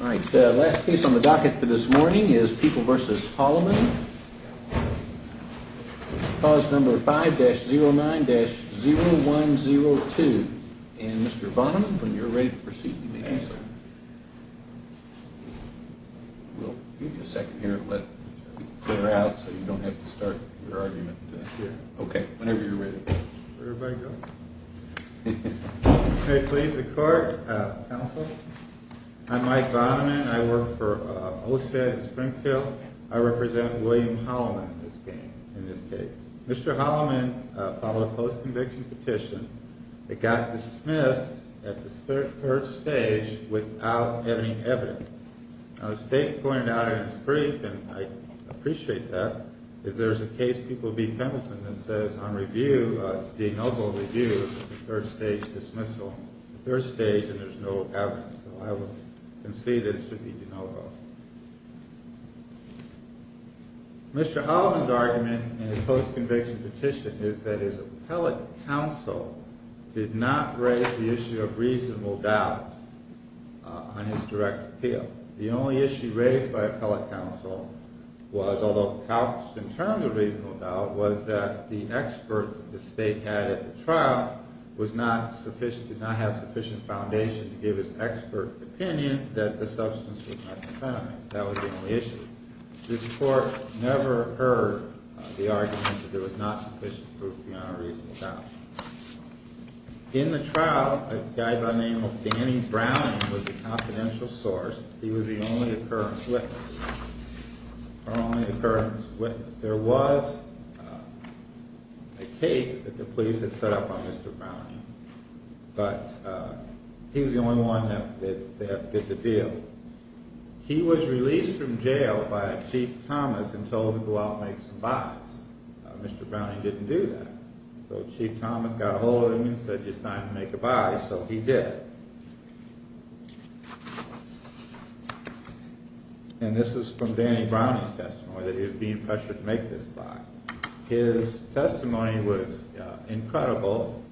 All right, the last piece on the docket for this morning is People v. Holloman, clause number 5-09-0102. And Mr. Bonham, when you're ready to proceed, you may answer. We'll give you a second here to clear out so you don't have to start your argument here. Okay, whenever you're ready. Everybody go. May it please the court, counsel. I'm Mike Bonham, and I work for OSED in Springfield. I represent William Holloman in this case. Mr. Holloman filed a post-conviction petition that got dismissed at the third stage without any evidence. Now, the state pointed out in its brief, and I appreciate that, is there's a case, People v. Pendleton, that says on review, it's de novo review, the third stage dismissal, the third stage, and there's no evidence. So I would concede that it should be de novo. Mr. Holloman's argument in his post-conviction petition is that his appellate counsel did not raise the issue of reasonable doubt on his direct appeal. The only issue raised by appellate counsel was, although couched in terms of reasonable doubt, was that the expert that the state had at the trial was not sufficient, did not have sufficient foundation to give his expert opinion that the substance was not defendant. That was the only issue. This court never heard the argument that there was not sufficient proof beyond a reasonable doubt. In the trial, a guy by the name of Danny Browning was the confidential source. He was the only occurrence witness. Our only occurrence witness. There was a case that the police had set up on Mr. Browning, but he was the only one that did the deal. He was released from jail by Chief Thomas and told to go out and make some buys. Mr. Browning didn't do that. So Chief Thomas got a hold of him and said it's time to make a buy, so he did. And this is from Danny Browning's testimony, that he was being pressured to make this buy. His testimony was incredible,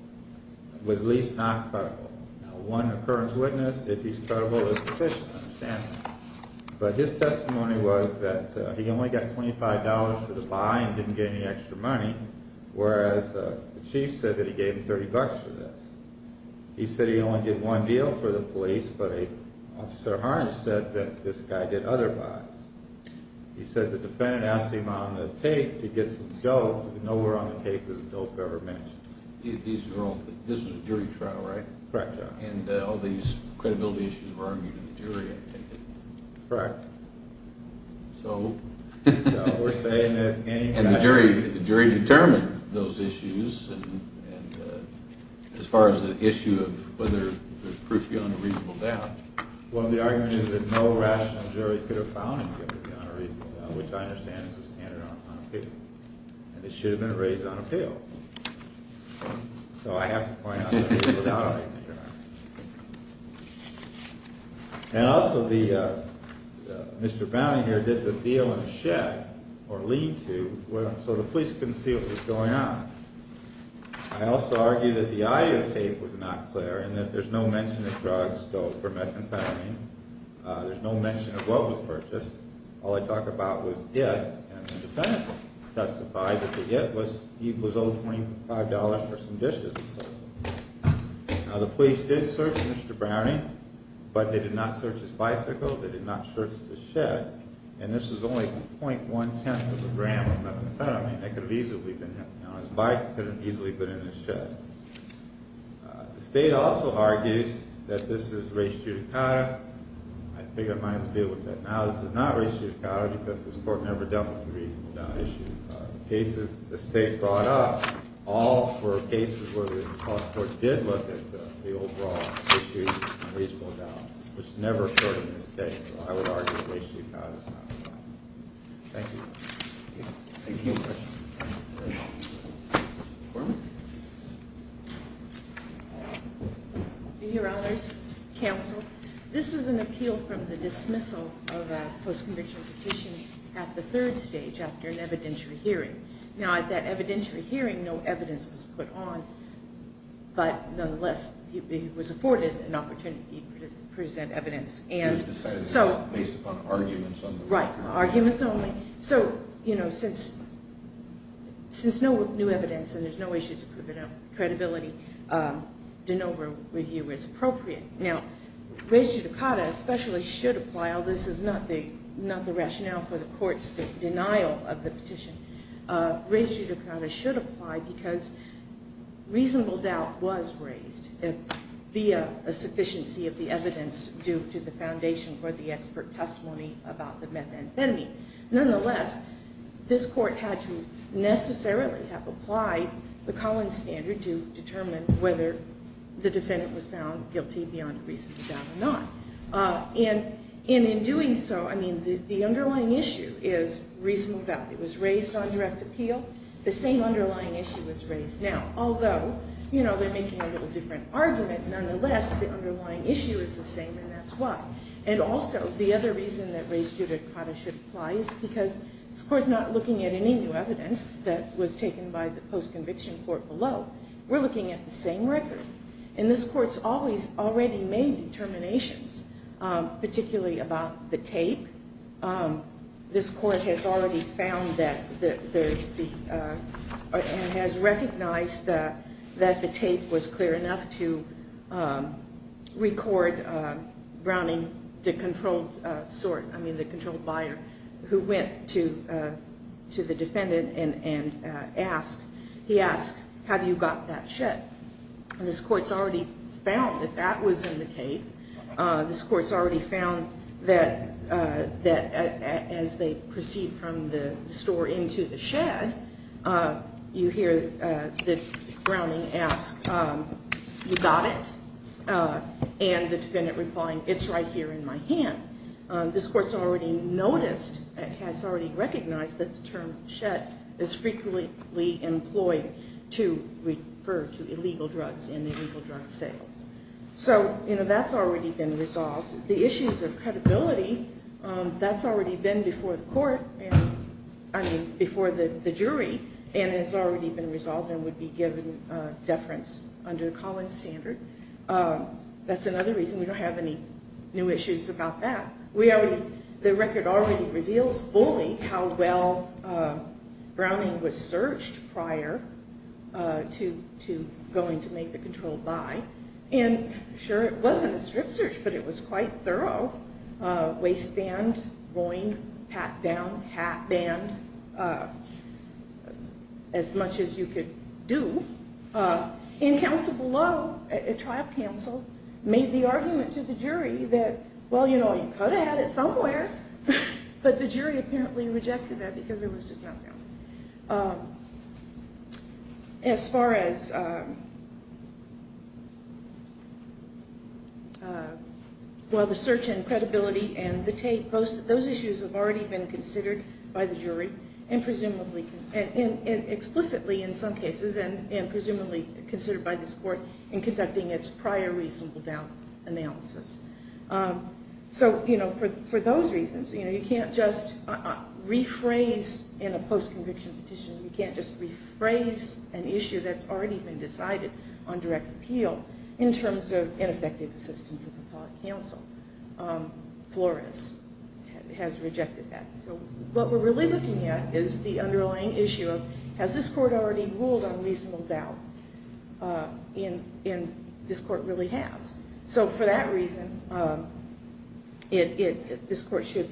was at least not credible. Now, one occurrence witness, if he's credible, is sufficient to understand that. But his testimony was that he only got $25 for the buy and didn't get any extra money, whereas the Chief said that he gave him $30 for this. He said he only did one deal for the police, but Officer Harnes said that this guy did other buys. He said the defendant asked him on the tape to get some dope. Nowhere on the tape was the dope ever mentioned. This was a jury trial, right? Correct. And all these credibility issues were argued in the jury, I take it? Correct. So we're saying that Danny Browning... The jury determined those issues as far as the issue of whether there's proof beyond a reasonable doubt. Well, the argument is that no rational jury could have found anything beyond a reasonable doubt, which I understand is a standard on appeal. And it should have been raised on appeal. So I have to point out that it was without a reasonable doubt. And also Mr. Browning here did the deal in a shed or lean-to, so the police couldn't see what was going on. I also argue that the audio tape was not clear and that there's no mention of drugs, dope, or methamphetamine. There's no mention of what was purchased. All they talk about was it, and the defendants testified that the it was $25 for some dishes and so forth. Now, the police did search Mr. Browning, but they did not search his bicycle. They did not search the shed. And this was only .1 tenth of a gram of methamphetamine. That could have easily been... Now, his bike could have easily been in the shed. The state also argues that this is res judicata. I figure I might as well deal with that now. This is not res judicata because this court never dealt with a reasonable doubt issue. The cases that the state brought up, all were cases where the college court did look at the overall issue of reasonable doubt, which never occurred in this case. So I would argue that res judicata is not involved. Thank you. Thank you. Thank you very much. Mr. McCormick. Your Honors, Counsel, this is an appeal from the dismissal of a post-conviction petition at the third stage after an evidentiary hearing. Now, at that evidentiary hearing, no evidence was put on. But nonetheless, it was afforded an opportunity to present evidence. And so... Based upon arguments. Right. Arguments only. So, you know, since no new evidence and there's no issues of credibility, de novo review is appropriate. Now, res judicata especially should apply. This is not the rationale for the court's denial of the petition. Res judicata should apply because reasonable doubt was raised via a sufficiency of the evidence due to the foundation or the expert testimony about the methamphetamine. Nonetheless, this court had to necessarily have applied the Collins standard to determine whether the defendant was found guilty beyond reasonable doubt or not. And in doing so, I mean, the underlying issue is reasonable doubt. It was raised on direct appeal. The same underlying issue was raised now. Although, you know, they're making a little different argument. Nonetheless, the underlying issue is the same, and that's why. And also, the other reason that res judicata should apply is because this court's not looking at any new evidence that was taken by the post-conviction court below. We're looking at the same record. And this court's always already made determinations, particularly about the tape. This court has already found that and has recognized that the tape was clear enough to record Browning, the controlled sort, I mean, the controlled buyer, who went to the defendant and asked, he asked, have you got that check? And this court's already found that that was in the tape. This court's already found that as they proceed from the store into the shed, you hear that Browning asks, you got it? And the defendant replying, it's right here in my hand. This court's already noticed and has already recognized that the term shed is frequently employed to refer to illegal drugs in the illegal drug sales. So, you know, that's already been resolved. The issues of credibility, that's already been before the court, I mean, before the jury, and has already been resolved and would be given deference under Collins' standard. That's another reason we don't have any new issues about that. The record already reveals fully how well Browning was searched prior to going to make the controlled buy. And sure, it wasn't a strip search, but it was quite thorough. Waistband, groin, pat down, hat band, as much as you could do. In counsel below, a trial counsel, made the argument to the jury that, well, you know, you could have had it somewhere. But the jury apparently rejected that because it was just not found. As far as, well, the search and credibility and the tape, those issues have already been considered by the jury, and presumably, and explicitly in some cases, and presumably considered by this court in conducting its prior reasonable doubt analysis. So, you know, for those reasons, you know, you can't just rephrase in a post-conviction petition. You can't just rephrase an issue that's already been decided on direct appeal in terms of ineffective assistance of the public counsel. Flores has rejected that. So what we're really looking at is the underlying issue of, has this court already ruled on reasonable doubt? And this court really has. So for that reason, this court should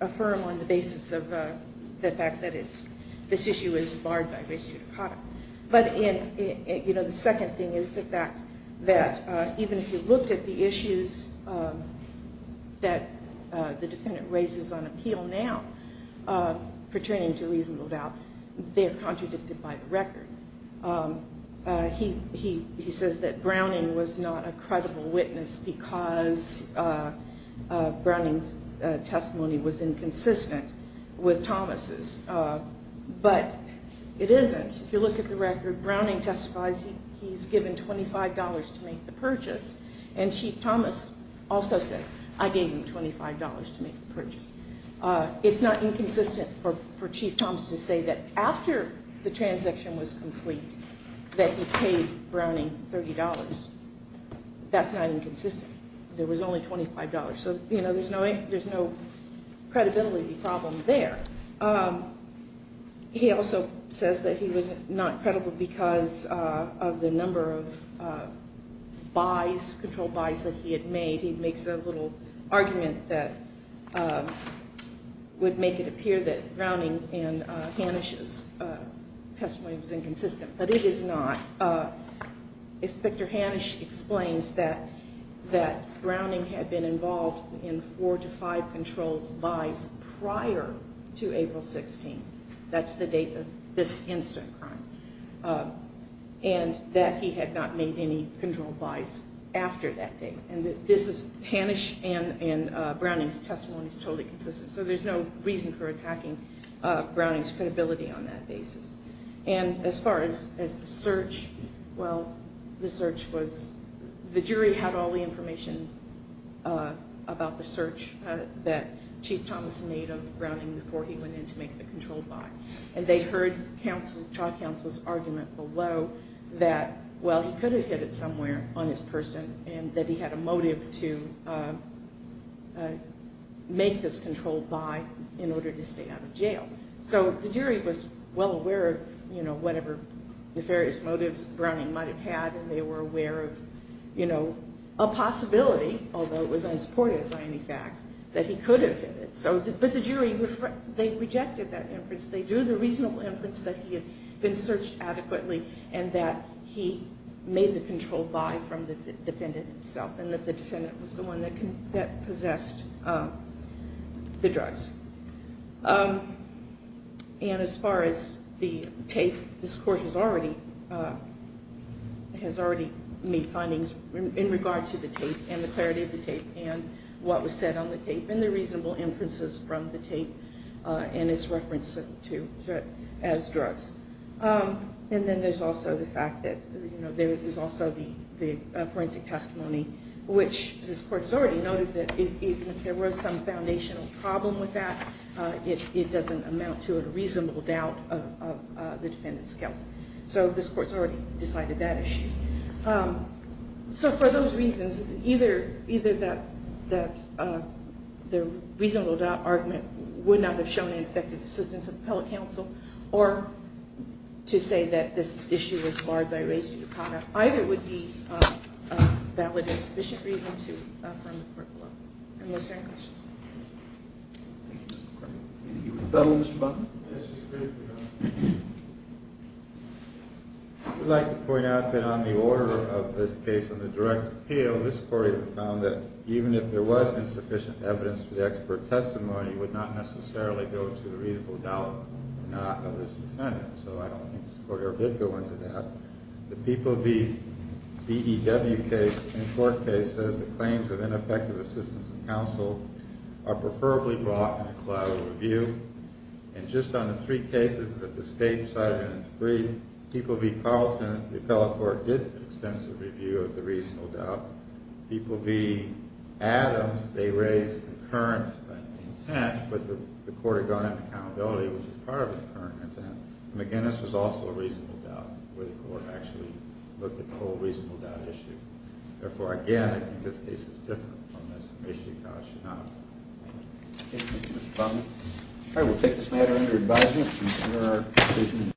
affirm on the basis of the fact that this issue is barred by res judicata. But, you know, the second thing is the fact that even if you looked at the issues that the defendant raises on appeal now, pertaining to reasonable doubt, they are contradicted by the record. He says that Browning was not a credible witness because Browning's testimony was inconsistent with Thomas's. But it isn't. If you look at the record, Browning testifies he's given $25 to make the purchase. And Chief Thomas also says, I gave you $25 to make the purchase. It's not inconsistent for Chief Thomas to say that after the transaction was complete, that he paid Browning $30. That's not inconsistent. There was only $25. So, you know, there's no credibility problem there. He also says that he was not credible because of the number of buys, controlled buys that he had made. He makes a little argument that would make it appear that Browning and Hanisch's testimony was inconsistent. But it is not. Inspector Hanisch explains that Browning had been involved in four to five controlled buys prior to April 16th. That's the date of this instant crime. And that he had not made any controlled buys after that date. And this is Hanisch and Browning's testimony is totally consistent. So there's no reason for attacking Browning's credibility on that basis. And as far as the search, well, the search was, the jury had all the information about the search that Chief Thomas made of Browning before he went in to make the controlled buy. And they heard trial counsel's argument below that, well, he could have hid it somewhere on his person. And that he had a motive to make this controlled buy in order to stay out of jail. So the jury was well aware of whatever nefarious motives Browning might have had. And they were aware of a possibility, although it was unsupported by any facts, that he could have hid it. But the jury, they rejected that inference. They drew the reasonable inference that he had been searched adequately and that he made the controlled buy from the defendant himself. And that the defendant was the one that possessed the drugs. And as far as the tape, this Court has already made findings in regard to the tape and the clarity of the tape and what was said on the tape. And the reasonable inferences from the tape and its reference to it as drugs. And then there's also the fact that there is also the forensic testimony, which this Court has already noted that even if there was some foundational problem with that, it doesn't amount to a reasonable doubt of the defendant's guilt. So this Court has already decided that issue. So for those reasons, either that the reasonable doubt argument would not have shown an effective assistance of the appellate counsel, or to say that this issue was marred by race judicata, either would be a valid and sufficient reason to affirm the court below. Unless there are any questions. Thank you, Mr. Cronin. Do you rebuttal, Mr. Buckner? Yes, Mr. Cronin. I would like to point out that on the order of this case on the direct appeal, this Court has found that even if there was insufficient evidence for the expert testimony, it would not necessarily go to the reasonable doubt or not of this defendant. So I don't think this Court ever did go into that. The PPOB DEW case and court case says the claims of ineffective assistance of counsel are preferably brought in a collateral review. And just on the three cases that the State decided in its brief, PPOB Carlton, the appellate court, did an extensive review of the reasonable doubt. PPOB Adams, they raised the current intent, but the Court had gone into accountability, which was part of the current intent. McGinnis was also a reasonable doubt, where the Court actually looked at the whole reasonable doubt issue. Therefore, again, I think this case is different from this issue. Thank you, Mr. Buckner. All right, we'll take this matter under advisement.